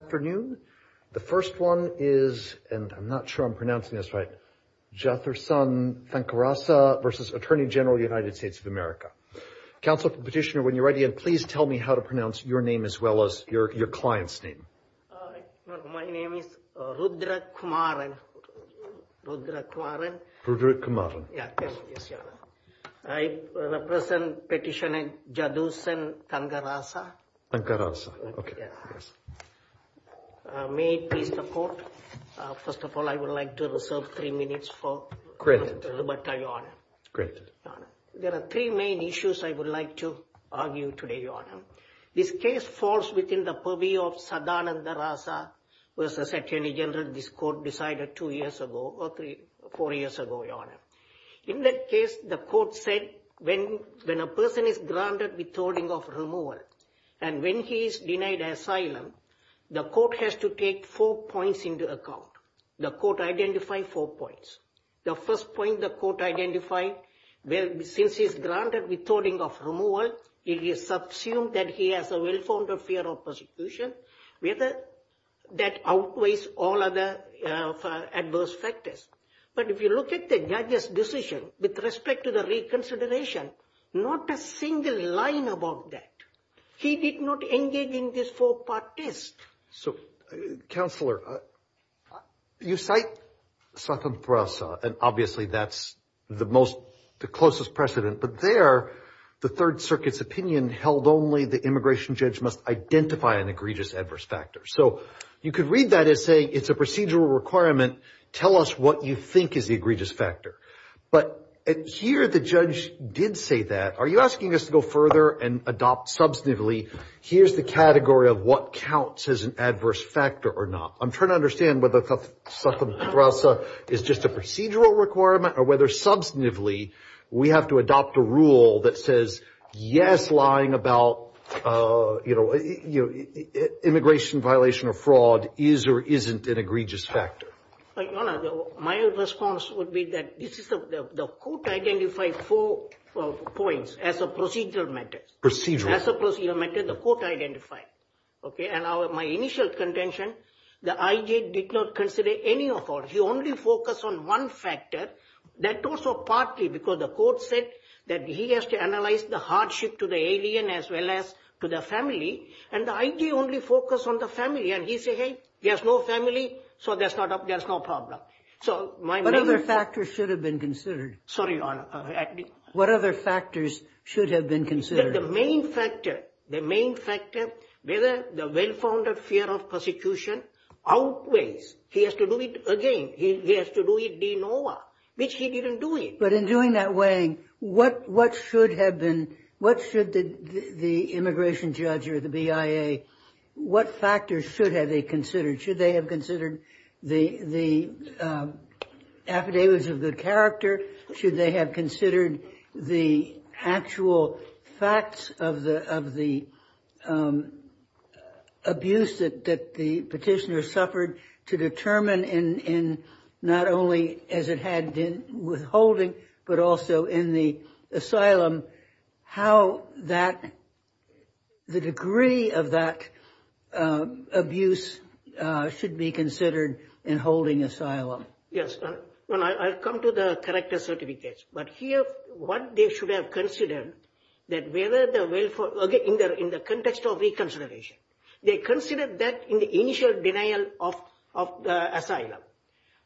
Good afternoon. The first one is, and I'm not sure I'm pronouncing this right, Jatharsan Thangarasa v. Attorney General of the United States of America. Council Petitioner, when you're ready, please tell me how to pronounce your name as well as your client's name. My name is Rudra Kumaran. I represent Petitioner Jatharsan Thangarasa. Jatharsan Thangarasa. May it please the Court. First of all, I would like to reserve three minutes for Roberta, Your Honor. Great. There are three main issues I would like to argue today, Your Honor. This case falls within the purview of Sadananda Rasa v. Attorney General. This Court decided four years ago, Your Honor. In that case, the Court said when a person is granted withholding of removal, and when he's denied asylum, the Court has to take four points into account. The Court identified four points. The first point the Court identified, since he's granted withholding of removal, it is subsumed that he has a well-founded fear of persecution, whether that outweighs all other adverse factors. But if you look at the judge's decision with respect to the reconsideration, not a single line about that. He did not engage in this four-part test. So, Counselor, you cite Sadananda Rasa, and obviously that's the most, the closest precedent. But there, the Third Circuit's opinion held only the immigration judge must identify an egregious adverse factor. So you could read that as saying it's a procedural requirement. Tell us what you think is the egregious factor. But here the judge did say that. Are you asking us to go further and adopt substantively, here's the category of what counts as an adverse factor or not? I'm trying to understand whether Sadananda Rasa is just a procedural requirement or whether substantively we have to adopt a rule that says, yes, lying about immigration violation or fraud is or isn't an egregious factor. My response would be that the Court identified four points as a procedural method. Procedural. As a procedural method, the Court identified. Okay. And my initial contention, the I.J. did not consider any of all. He only focused on one factor. That was partly because the Court said that he has to analyze the hardship to the alien as well as to the family. And the I.J. only focused on the family. And he said, hey, there's no family, so there's no problem. What other factors should have been considered? Sorry, Your Honor. What other factors should have been considered? The main factor, the main factor, whether the well-founded fear of persecution outweighs. He has to do it again. He has to do it de novo, which he didn't do it. But in doing that weighing what should have been, what should the immigration judge or the BIA, what factors should have they considered? Should they have considered the affidavits of good character? Should they have considered the actual facts of the abuse that the petitioner suffered to determine in not only as it had been withholding, but also in the asylum how that the degree of that abuse should be considered in holding asylum? Yes. I've come to the correctness of the case. But here, what they should have considered that whether the welfare in the context of reconsideration, they considered that in the initial denial of the asylum.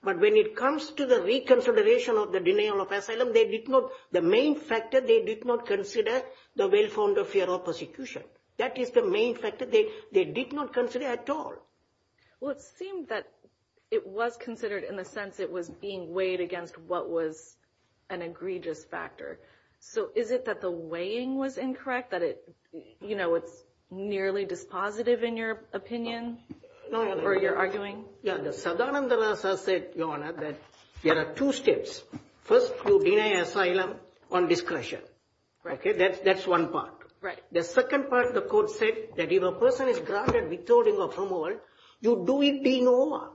But when it comes to the reconsideration of the denial of asylum, they did not the main factor. They did not consider the well-founded fear of persecution. That is the main factor. They did not consider at all. Well, it seemed that it was considered in the sense it was being weighed against what was an egregious factor. So is it that the weighing was incorrect, that it, you know, it's nearly dispositive in your opinion or you're arguing? Yeah. The Sadananda Rasa said, Your Honor, that there are two steps. First, you deny asylum on discretion. OK, that's that's one part. Right. The second part, the court said that if a person is granted withholding of removal, you do it de novo.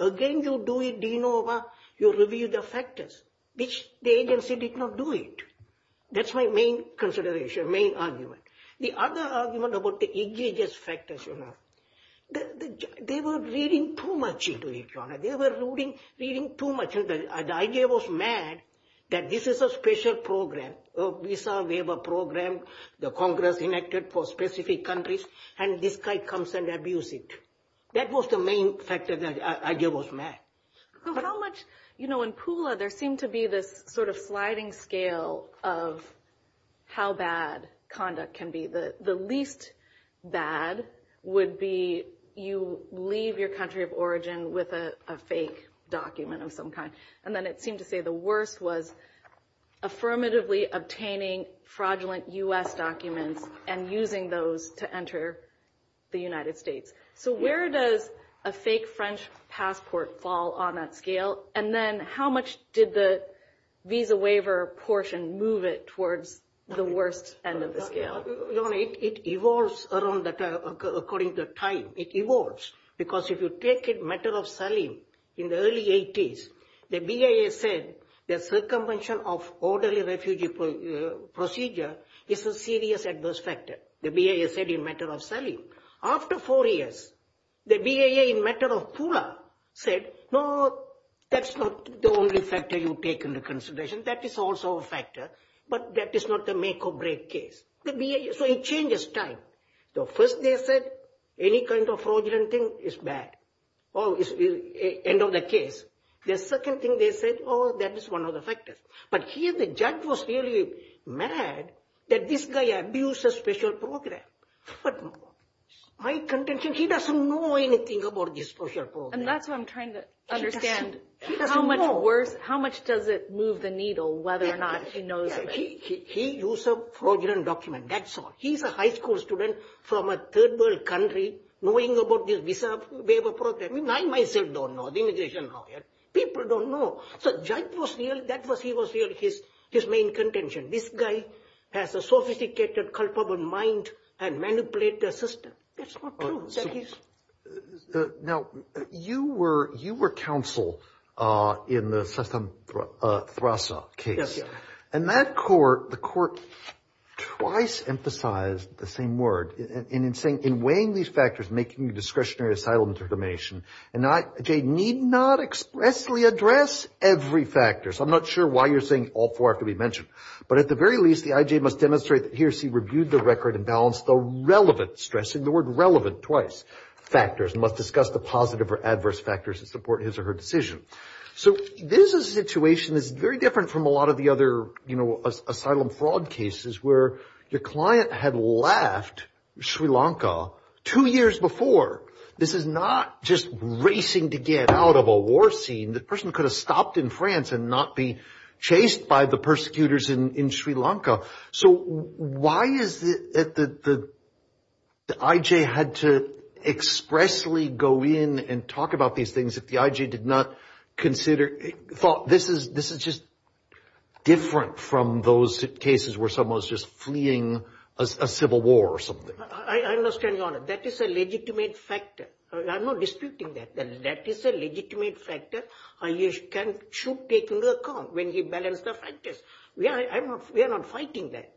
Again, you do it de novo. You review the factors, which the agency did not do it. That's my main consideration, main argument. The other argument about the egregious factors, Your Honor, they were reading too much into it, Your Honor. They were reading too much. The idea was mad that this is a special program. We saw we have a program, the Congress enacted for specific countries. And this guy comes and abuse it. That was the main factor. The idea was mad. How much, you know, in Pula, there seemed to be this sort of sliding scale of how bad conduct can be. The least bad would be you leave your country of origin with a fake document of some kind. And then it seemed to say the worst was affirmatively obtaining fraudulent U.S. documents and using those to enter the United States. So where does a fake French passport fall on that scale? And then how much did the visa waiver portion move it towards the worst end of the scale? Your Honor, it evolves according to time. It evolves because if you take the matter of Saleem in the early 80s, the BIA said the circumvention of orderly refugee procedure is a serious adverse factor. The BIA said in the matter of Saleem. After four years, the BIA in the matter of Pula said, no, that's not the only factor you take into consideration. That is also a factor, but that is not the make or break case. So it changes time. The first they said any kind of fraudulent thing is bad. End of the case. The second thing they said, oh, that is one of the factors. But here the judge was really mad that this guy abused a special program. But my contention, he doesn't know anything about this special program. And that's what I'm trying to understand. He doesn't know. How much worse, how much does it move the needle whether or not he knows about it? He used a fraudulent document. That's all. He's a high school student from a third world country knowing about this visa waiver program. I myself don't know. The immigration lawyer. People don't know. So the judge was real, that was his main contention. This guy has a sophisticated culpable mind and manipulates the system. That's not true. Now, you were counsel in the Thrasa case. And that court, the court twice emphasized the same word. And in saying in weighing these factors making discretionary asylum determination and IJ need not expressly address every factor. So I'm not sure why you're saying all four have to be mentioned. But at the very least the IJ must demonstrate that he or she reviewed the record and balanced the relevant stress in the word relevant twice. Factors must discuss the positive or adverse factors that support his or her decision. So this is a situation that's very different from a lot of the other, you know, asylum fraud cases where your client had left Sri Lanka two years before. This is not just racing to get out of a war scene. The person could have stopped in France and not be chased by the persecutors in Sri Lanka. So why is it that the IJ had to expressly go in and talk about these things if the IJ did not consider, thought this is just different from those cases where someone was just fleeing a civil war or something. I understand, Your Honor. That is a legitimate factor. I'm not disputing that. That is a legitimate factor. You should take into account when you balance the factors. We are not fighting that.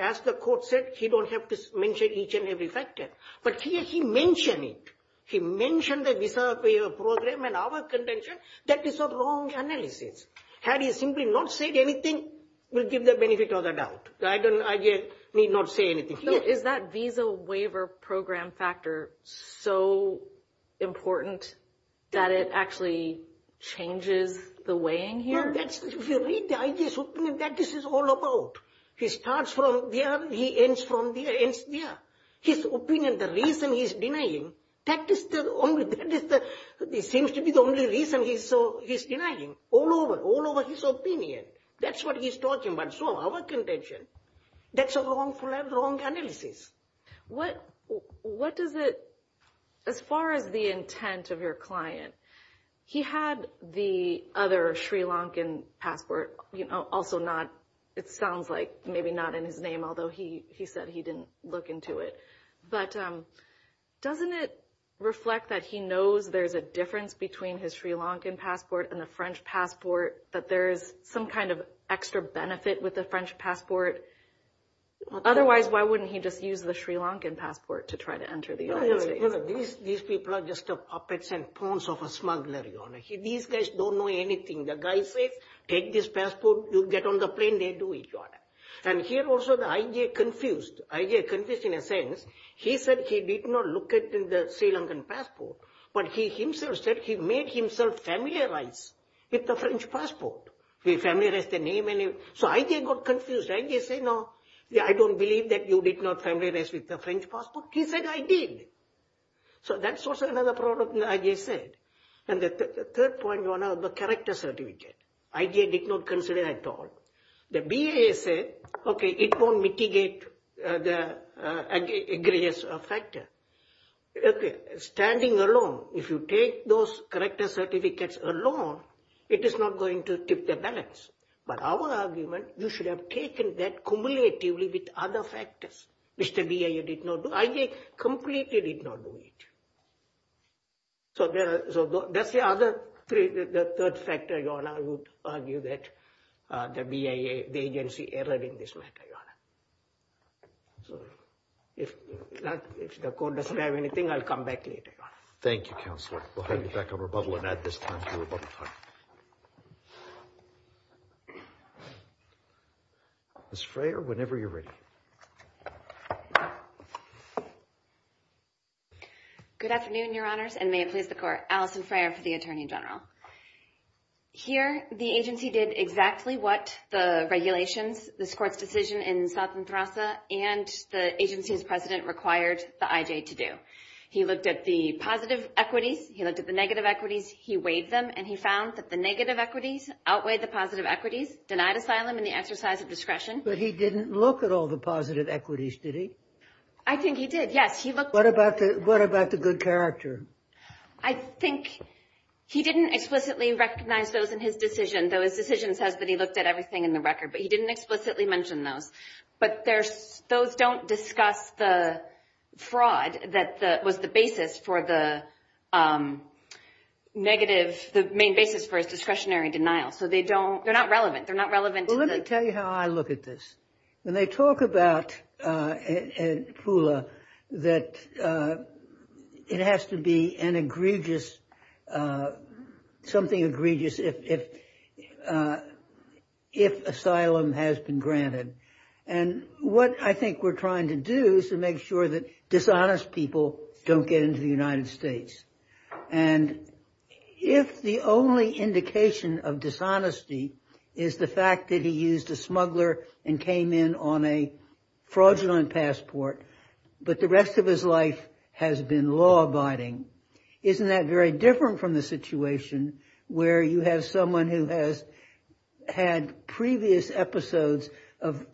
As the court said, you don't have to mention each and every factor. But here he mentioned it. He mentioned the visa waiver program and our contention. That is a wrong analysis. Had he simply not said anything, it would give the benefit of the doubt. The IJ need not say anything. Is that visa waiver program factor so important that it actually changes the weighing here? If you read the IJ's opinion, that is all about. He starts from there. He ends from there. His opinion, the reason he's denying, that seems to be the only reason he's denying. All over, all over his opinion. That's what he's talking about. So our contention, that's a wrong analysis. What does it, as far as the intent of your client, he had the other Sri Lankan passport, also not, it sounds like maybe not in his name, although he said he didn't look into it. But doesn't it reflect that he knows there's a difference between his Sri Lankan passport and the French passport, that there's some kind of extra benefit with the French passport? Otherwise, why wouldn't he just use the Sri Lankan passport to try to enter the United States? These people are just puppets and pawns of a smuggler, Your Honor. These guys don't know anything. The guy says, take this passport, you get on the plane, they do it, Your Honor. And here also the IJ confused. IJ confused in a sense, he said he did not look at the Sri Lankan passport, but he himself said he made himself familiarized with the French passport. He familiarized the name. So IJ got confused. IJ said, no, I don't believe that you did not familiarize with the French passport. He said, I did. So that's also another problem, IJ said. And the third point, Your Honor, the character certificate. IJ did not consider at all. The BIA said, okay, it won't mitigate the egregious factor. Okay, standing alone, if you take those character certificates alone, it is not going to tip the balance. But our argument, you should have taken that cumulatively with other factors, which the BIA did not do. IJ completely did not do it. So that's the other third factor, Your Honor, would argue that the BIA, the agency, erred in this matter, Your Honor. So if the court doesn't have anything, I'll come back later, Your Honor. Thank you, Counselor. We'll head back over to bubble and add this time to our bubble time. Ms. Freyer, whenever you're ready. Good afternoon, Your Honors, and may it please the Court. Allison Freyer for the Attorney General. Here, the agency did exactly what the regulations, this Court's decision in South Entrasa, and the agency's president required the IJ to do. He looked at the positive equities, he looked at the negative equities, he weighed them, and he found that the negative equities outweighed the positive equities, denied asylum and the exercise of discretion. But he didn't look at all the positive equities, did he? I think he did, yes. What about the good character? I think he didn't explicitly recognize those in his decision, though his decision says that he looked at everything in the record, but he didn't explicitly mention those. But those don't discuss the fraud that was the basis for the negative, the main basis for his discretionary denial. So they don't, they're not relevant, they're not relevant. Well, let me tell you how I look at this. When they talk about Pula, that it has to be an egregious, something egregious if asylum has been granted. And what I think we're trying to do is to make sure that dishonest people don't get into the United States. And if the only indication of dishonesty is the fact that he used a smuggler and came in on a fraudulent passport, but the rest of his life has been law-abiding, isn't that very different from the situation where you have someone who has had previous episodes of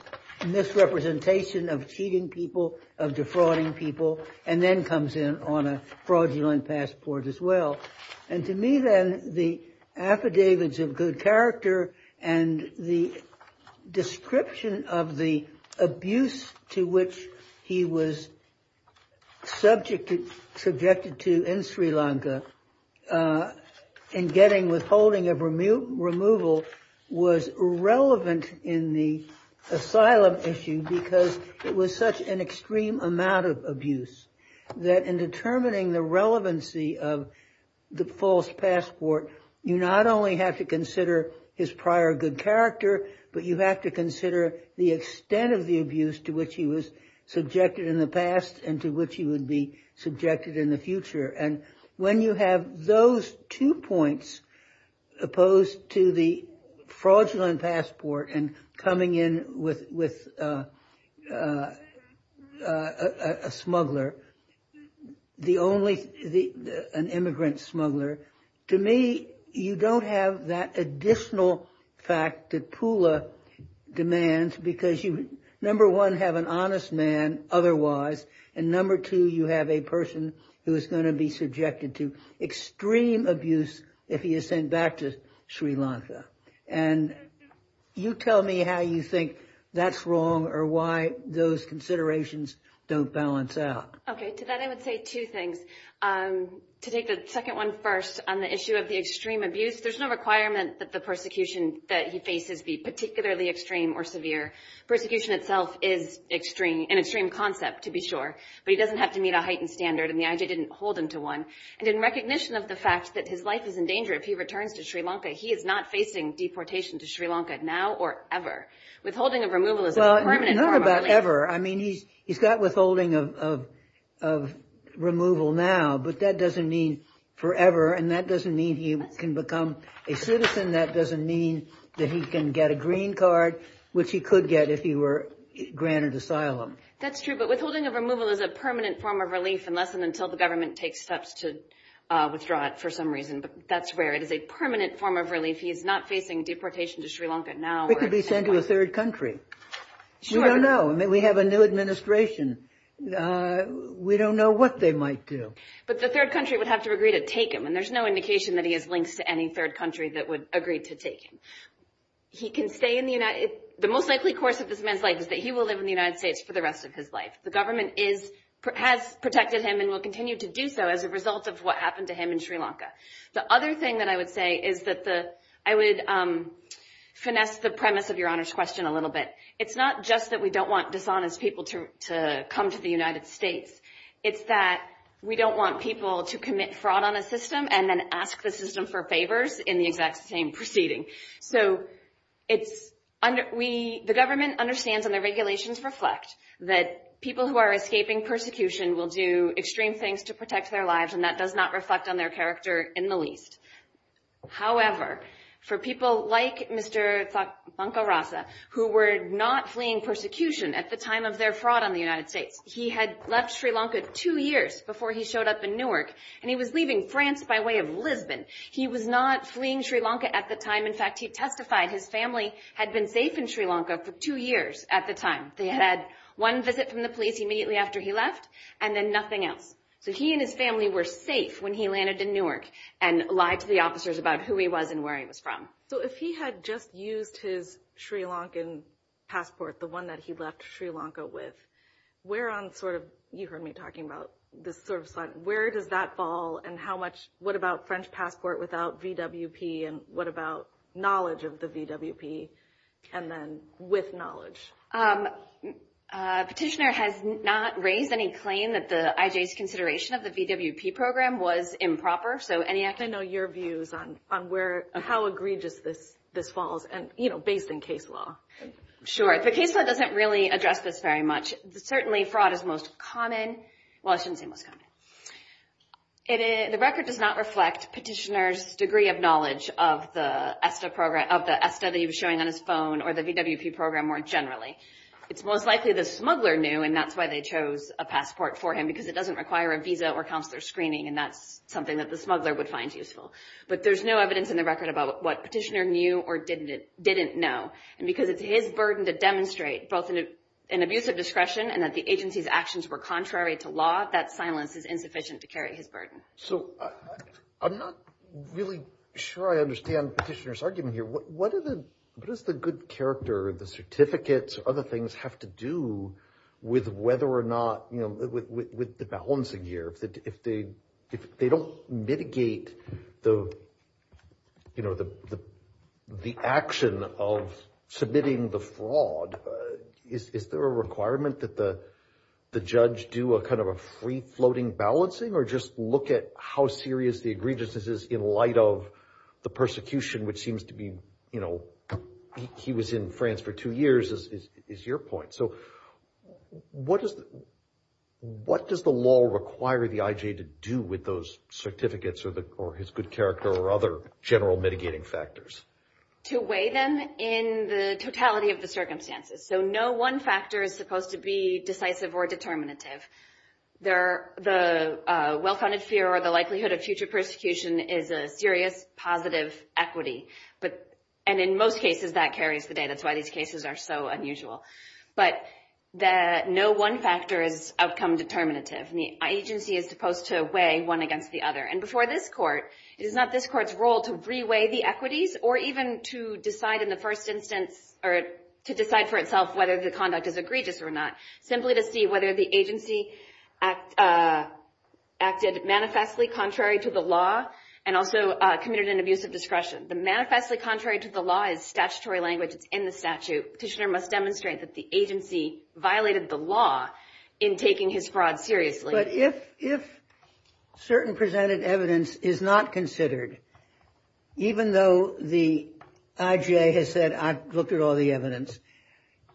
misrepresentation, of cheating people, of defrauding people, and then comes in on a fraudulent passport as well. And to me then, the affidavits of good character and the description of the abuse to which he was subjected to in Sri Lanka in getting withholding of removal was irrelevant in the asylum issue because it was such an extreme amount of abuse that in determining the relevancy of the false passport, you not only have to consider his prior good character, but you have to consider the extent of the abuse to which he was subjected in the past and to which he would be subjected in the future. And when you have those two points opposed to the fraudulent passport and coming in with a smuggler, an immigrant smuggler, to me you don't have that additional fact that Pula demands because you, number one, have an honest man otherwise, and number two, you have a person who is going to be subjected to extreme abuse if he is sent back to Sri Lanka. And you tell me how you think that's wrong or why those considerations don't balance out. Okay, to that I would say two things. To take the second one first on the issue of the extreme abuse, there's no requirement that the persecution that he faces be particularly extreme or severe. Persecution itself is an extreme concept to be sure, but he doesn't have to meet a heightened standard, and the IJ didn't hold him to one. And in recognition of the fact that his life is in danger if he returns to Sri Lanka, he is not facing deportation to Sri Lanka now or ever. Withholding of removal is a permanent harm. Well, not about ever. I mean, he's got withholding of removal now, but that doesn't mean forever, and that doesn't mean he can become a citizen. That doesn't mean that he can get a green card, which he could get if he were granted asylum. That's true, but withholding of removal is a permanent form of relief unless and until the government takes steps to withdraw it for some reason. But that's where it is a permanent form of relief. He is not facing deportation to Sri Lanka now. He could be sent to a third country. Sure. We don't know. I mean, we have a new administration. We don't know what they might do. But the third country would have to agree to take him, and there's no indication that he has links to any third country that would agree to take him. The most likely course of this man's life is that he will live in the United States for the rest of his life. The government has protected him and will continue to do so as a result of what happened to him in Sri Lanka. The other thing that I would say is that I would finesse the premise of Your Honor's question a little bit. It's not just that we don't want dishonest people to come to the United States. It's that we don't want people to commit fraud on a system and then ask the system for favors in the exact same proceeding. So the government understands, and the regulations reflect, that people who are escaping persecution will do extreme things to protect their lives, and that does not reflect on their character in the least. However, for people like Mr. Thakkarasa, who were not fleeing persecution at the time of their fraud on the United States, he had left Sri Lanka two years before he showed up in Newark, and he was leaving France by way of Lisbon. He was not fleeing Sri Lanka at the time. In fact, he testified his family had been safe in Sri Lanka for two years at the time. They had had one visit from the police immediately after he left, and then nothing else. So he and his family were safe when he landed in Newark and lied to the officers about who he was and where he was from. So if he had just used his Sri Lankan passport, the one that he left Sri Lanka with, where on sort of—you heard me talking about this sort of slide—where does that fall, and how much—what about French passport without VWP, and what about knowledge of the VWP, and then with knowledge? Petitioner has not raised any claim that the IJ's consideration of the VWP program was improper. I'd like to know your views on how egregious this falls, based on case law. Sure. The case law doesn't really address this very much. Certainly, fraud is most common. Well, I shouldn't say most common. The record does not reflect petitioner's degree of knowledge of the ESTA that he was showing on his phone or the VWP program more generally. It's most likely the smuggler knew, and that's why they chose a passport for him, because it doesn't require a visa or counselor screening, and that's something that the smuggler would find useful. But there's no evidence in the record about what petitioner knew or didn't know, and because it's his burden to demonstrate both an abuse of discretion and that the agency's actions were contrary to law, that silence is insufficient to carry his burden. So I'm not really sure I understand petitioner's argument here. What does the good character, the certificates, or other things have to do with whether or not, you know, with the balancing gear? If they don't mitigate the, you know, the action of submitting the fraud, is there a requirement that the judge do a kind of a free-floating balancing or just look at how serious the egregiousness is in light of the persecution, which seems to be, you know, he was in France for two years is your point. So what does the law require the IJ to do with those certificates or his good character or other general mitigating factors? To weigh them in the totality of the circumstances. So no one factor is supposed to be decisive or determinative. The well-founded fear or the likelihood of future persecution is a serious positive equity, and in most cases that carries the day. That's why these cases are so unusual. But no one factor is outcome determinative. The agency is supposed to weigh one against the other. And before this court, it is not this court's role to re-weigh the equities or even to decide in the first instance or to decide for itself whether the conduct is egregious or not, simply to see whether the agency acted manifestly contrary to the law and also committed an abuse of discretion. The manifestly contrary to the law is statutory language. It's in the statute. Petitioner must demonstrate that the agency violated the law in taking his fraud seriously. But if certain presented evidence is not considered, even though the IJ has said I've looked at all the evidence,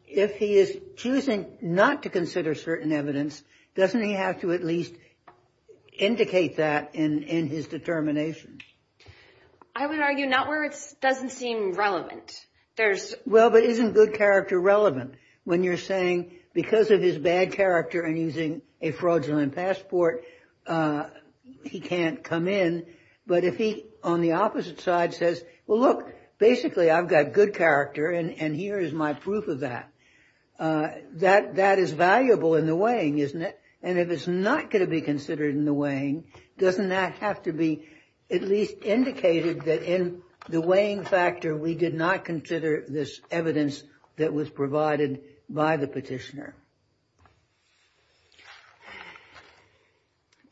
if he is choosing not to consider certain evidence, doesn't he have to at least indicate that in his determination? I would argue not where it doesn't seem relevant. Well, but isn't good character relevant when you're saying because of his bad character and using a fraudulent passport, he can't come in? But if he on the opposite side says, well, look, basically I've got good character and here is my proof of that, that is valuable in the weighing, isn't it? And if it's not going to be considered in the weighing, doesn't that have to be at least indicated that in the weighing factor, we did not consider this evidence that was provided by the petitioner?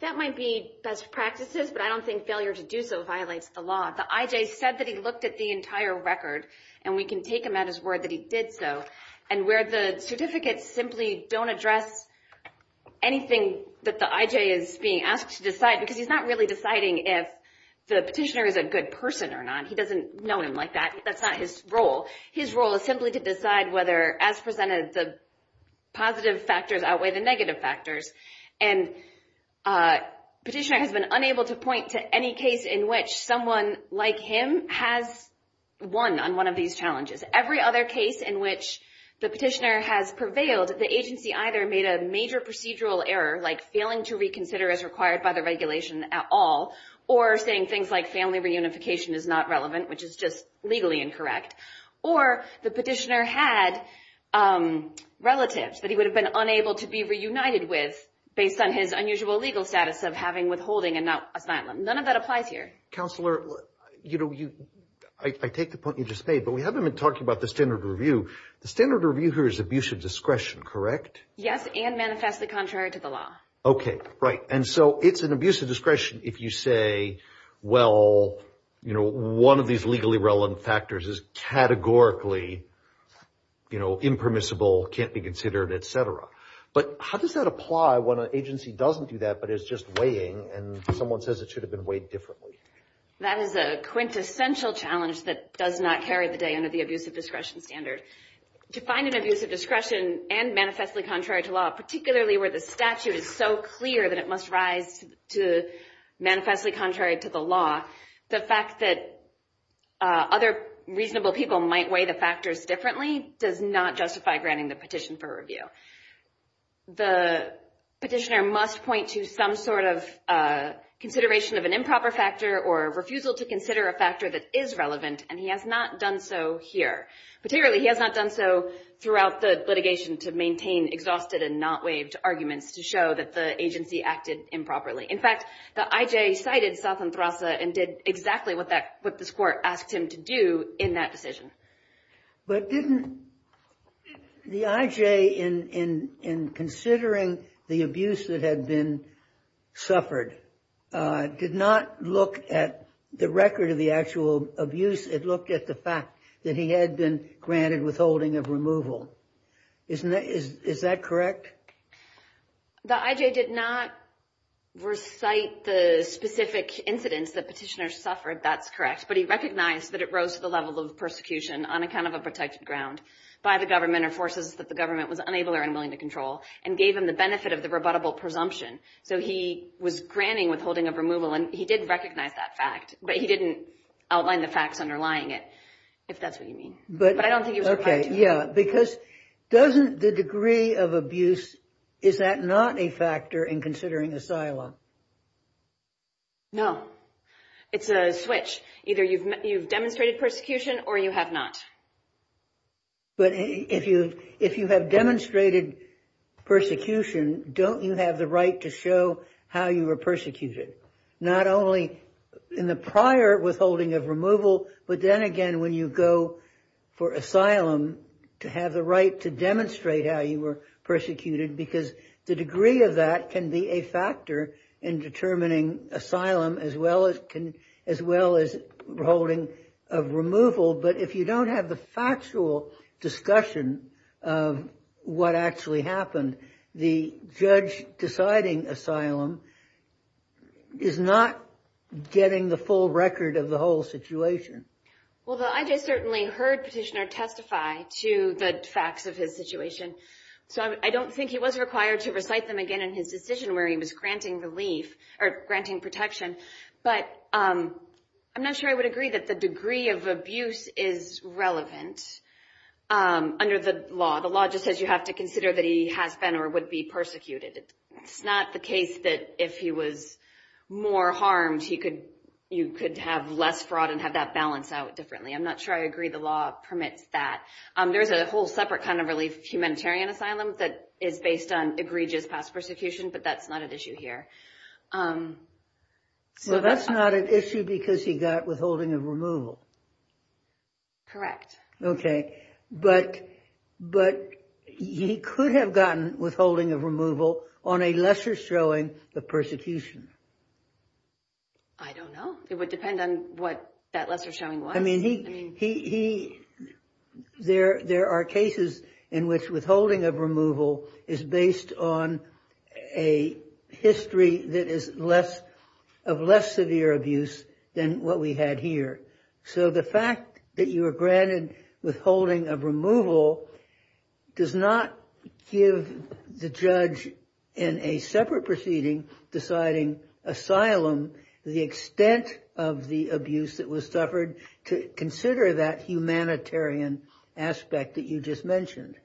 That might be best practices, but I don't think failure to do so violates the law. The IJ said that he looked at the entire record, and we can take him at his word that he did so. And where the certificates simply don't address anything that the IJ is being asked to decide, because he's not really deciding if the petitioner is a good person or not. He doesn't know him like that. That's not his role. His role is simply to decide whether, as presented, the positive factors outweigh the negative factors. And petitioner has been unable to point to any case in which someone like him has won on one of these challenges. Every other case in which the petitioner has prevailed, the agency either made a major procedural error, like failing to reconsider as required by the regulation at all, or saying things like family reunification is not relevant, which is just legally incorrect. Or the petitioner had relatives that he would have been unable to be reunited with, based on his unusual legal status of having withholding and not asylum. None of that applies here. Counselor, you know, I take the point you just made, but we haven't been talking about the standard review. The standard review here is abuse of discretion, correct? Yes, and manifestly contrary to the law. Okay, right. And so it's an abuse of discretion if you say, well, you know, one of these legally relevant factors is categorically, you know, impermissible, can't be considered, et cetera. But how does that apply when an agency doesn't do that but is just weighing, and someone says it should have been weighed differently? That is a quintessential challenge that does not carry the day under the abuse of discretion standard. To find an abuse of discretion and manifestly contrary to law, particularly where the statute is so clear that it must rise to manifestly contrary to the law, the fact that other reasonable people might weigh the factors differently does not justify granting the petition for review. The petitioner must point to some sort of consideration of an improper factor or refusal to consider a factor that is relevant, and he has not done so here. Particularly, he has not done so throughout the litigation to maintain exhausted and not waived arguments to show that the agency acted improperly. In fact, the IJ cited Southanthrasa and did exactly what this Court asked him to do in that decision. But didn't the IJ, in considering the abuse that had been suffered, did not look at the record of the actual abuse. It looked at the fact that he had been granted withholding of removal. Is that correct? The IJ did not recite the specific incidents that petitioners suffered. That's correct. But he recognized that it rose to the level of persecution on account of a protected ground by the government or forces that the government was unable or unwilling to control and gave him the benefit of the rebuttable presumption. So he was granting withholding of removal, and he did recognize that fact, but he didn't outline the facts underlying it, if that's what you mean. But I don't think he was required to. Yeah, because doesn't the degree of abuse, is that not a factor in considering asylum? No. It's a switch. Either you've demonstrated persecution or you have not. But if you have demonstrated persecution, don't you have the right to show how you were persecuted? Not only in the prior withholding of removal, but then again when you go for asylum, to have the right to demonstrate how you were persecuted, because the degree of that can be a factor in determining asylum as well as withholding of removal. But if you don't have the factual discussion of what actually happened, the judge deciding asylum is not getting the full record of the whole situation. Well, I just certainly heard Petitioner testify to the facts of his situation. So I don't think he was required to recite them again in his decision where he was granting relief or granting protection. But I'm not sure I would agree that the degree of abuse is relevant under the law. The law just says you have to consider that he has been or would be persecuted. It's not the case that if he was more harmed, you could have less fraud and have that balance out differently. I'm not sure I agree the law permits that. There's a whole separate kind of relief humanitarian asylum that is based on egregious past persecution, but that's not an issue here. So that's not an issue because he got withholding of removal. Correct. OK. But he could have gotten withholding of removal on a lesser showing of persecution. I don't know. It would depend on what that lesser showing was. I mean, there are cases in which withholding of removal is based on a history that is of less severe abuse than what we had here. So the fact that you were granted withholding of removal does not give the judge in a separate proceeding deciding asylum, the extent of the abuse that was suffered, to consider that humanitarian aspect that you just mentioned.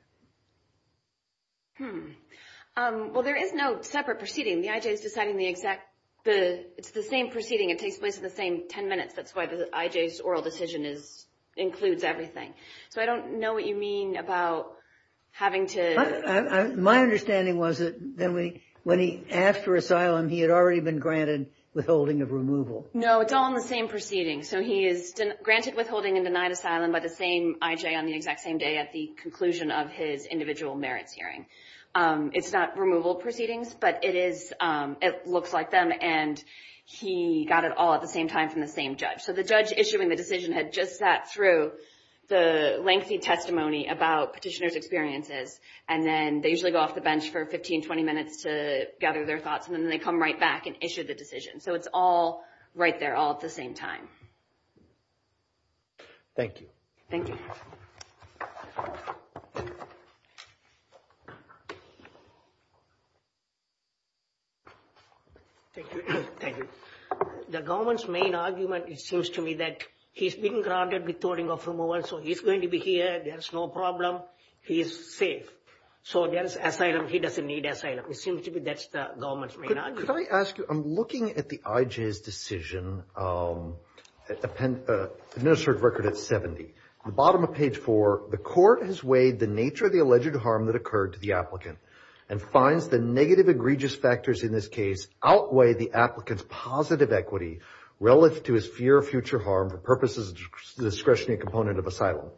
Well, there is no separate proceeding. The IJ is deciding the exact – it's the same proceeding. It takes place in the same 10 minutes. That's why the IJ's oral decision includes everything. So I don't know what you mean about having to – My understanding was that when he asked for asylum, he had already been granted withholding of removal. No, it's all in the same proceeding. So he is granted withholding and denied asylum by the same IJ on the exact same day at the conclusion of his individual merits hearing. It's not removal proceedings, but it looks like them, and he got it all at the same time from the same judge. So the judge issuing the decision had just sat through the lengthy testimony about petitioner's experiences, and then they usually go off the bench for 15, 20 minutes to gather their thoughts, and then they come right back and issue the decision. So it's all right there all at the same time. Thank you. Thank you. Thank you. Thank you. The government's main argument, it seems to me, that he's been granted withholding of removal, so he's going to be here. There's no problem. He is safe. So there's asylum. He doesn't need asylum. It seems to me that's the government's main argument. Could I ask you – I'm looking at the IJ's decision, administrative record at 70. At the bottom of page four, the court has weighed the nature of the alleged harm that occurred to the applicant and finds the negative egregious factors in this case outweigh the applicant's positive equity relative to his fear of future harm for purposes of discretionary component of asylum.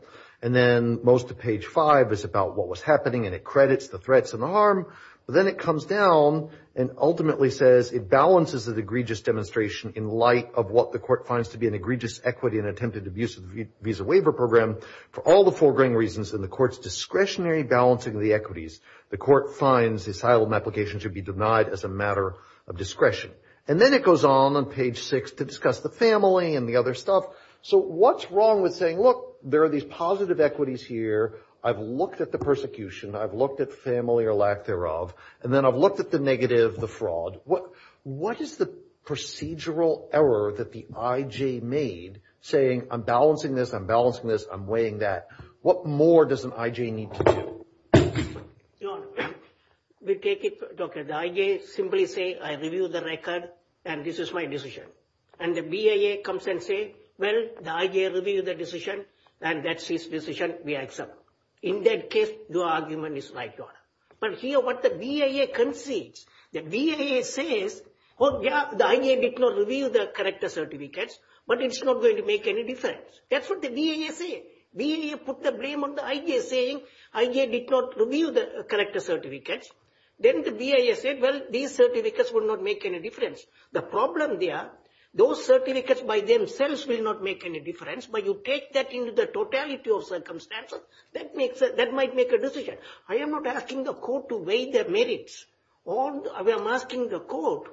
And then most of page five is about what was happening, and it credits the threats and the harm, but then it comes down and ultimately says it balances the egregious demonstration in light of what the court finds to be an egregious equity and attempted abuse of the visa waiver program for all the foregoing reasons in the court's discretionary balancing of the equities. The court finds the asylum application should be denied as a matter of discretion. And then it goes on on page six to discuss the family and the other stuff. So what's wrong with saying, look, there are these positive equities here. I've looked at the persecution. I've looked at family or lack thereof. And then I've looked at the negative, the fraud. What is the procedural error that the I.J. made saying I'm balancing this, I'm balancing this, I'm weighing that? What more does an I.J. need to do? Your Honor, we take it. The I.J. simply say I review the record and this is my decision. And the BIA comes and say, well, the I.J. reviewed the decision and that's his decision. We accept. In that case, your argument is right, Your Honor. But here what the BIA concedes, the BIA says, oh, yeah, the I.J. did not review the corrector certificates. But it's not going to make any difference. That's what the BIA say. BIA put the blame on the I.J. saying I.J. did not review the corrector certificates. Then the BIA said, well, these certificates will not make any difference. The problem there, those certificates by themselves will not make any difference. But you take that into the totality of circumstances. That makes that might make a decision. I am not asking the court to weigh the merits. I am asking the court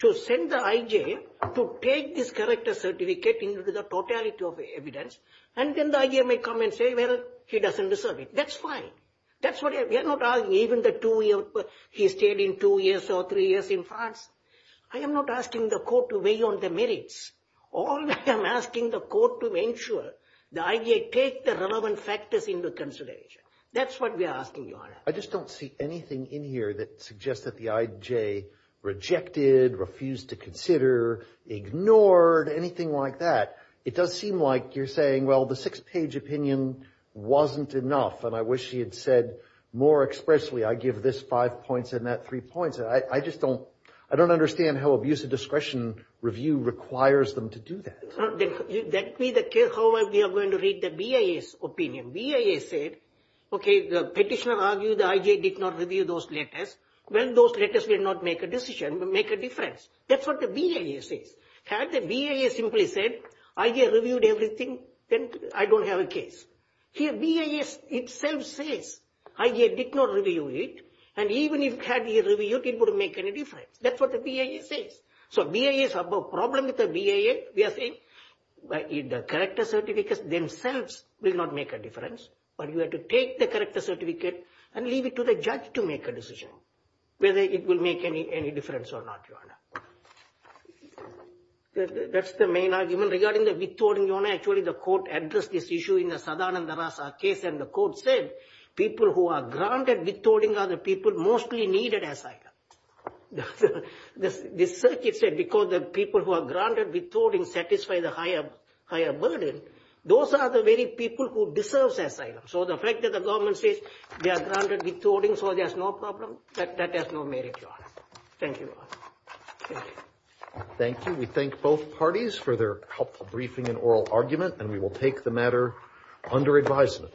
to send the I.J. to take this corrector certificate into the totality of evidence. And then the I.J. may come and say, well, he doesn't deserve it. That's fine. That's what we are not arguing. Even the two years he stayed in two years or three years in France. I am not asking the court to weigh on the merits. All I am asking the court to ensure the I.J. take the relevant factors into consideration. That's what we are asking, Your Honor. I just don't see anything in here that suggests that the I.J. rejected, refused to consider, ignored, anything like that. It does seem like you're saying, well, the six-page opinion wasn't enough, and I wish he had said more expressly, I give this five points and that three points. I just don't, I don't understand how abuse of discretion review requires them to do that. Let me, however, we are going to read the BIA's opinion. BIA said, OK, the petitioner argued the I.J. did not review those letters. Well, those letters will not make a decision, but make a difference. That's what the BIA says. Had the BIA simply said, I.J. reviewed everything, then I don't have a case. Here BIA itself says I.J. did not review it. And even if he had reviewed it, it wouldn't make any difference. That's what the BIA says. So BIA has a problem with the BIA. We are saying the character certificates themselves will not make a difference, but you have to take the character certificate and leave it to the judge to make a decision, whether it will make any difference or not, Your Honor. That's the main argument regarding the withholding, Your Honor. Actually, the court addressed this issue in the Sadananda Rasa case, and the court said people who are granted withholding are the people mostly needed as I.J. The circuit said because the people who are granted withholding satisfy the higher burden, those are the very people who deserve asylum. So the fact that the government says they are granted withholding so there's no problem, that has no merit, Your Honor. Thank you. Thank you. We thank both parties for their helpful briefing and oral argument, and we will take the matter under advisement.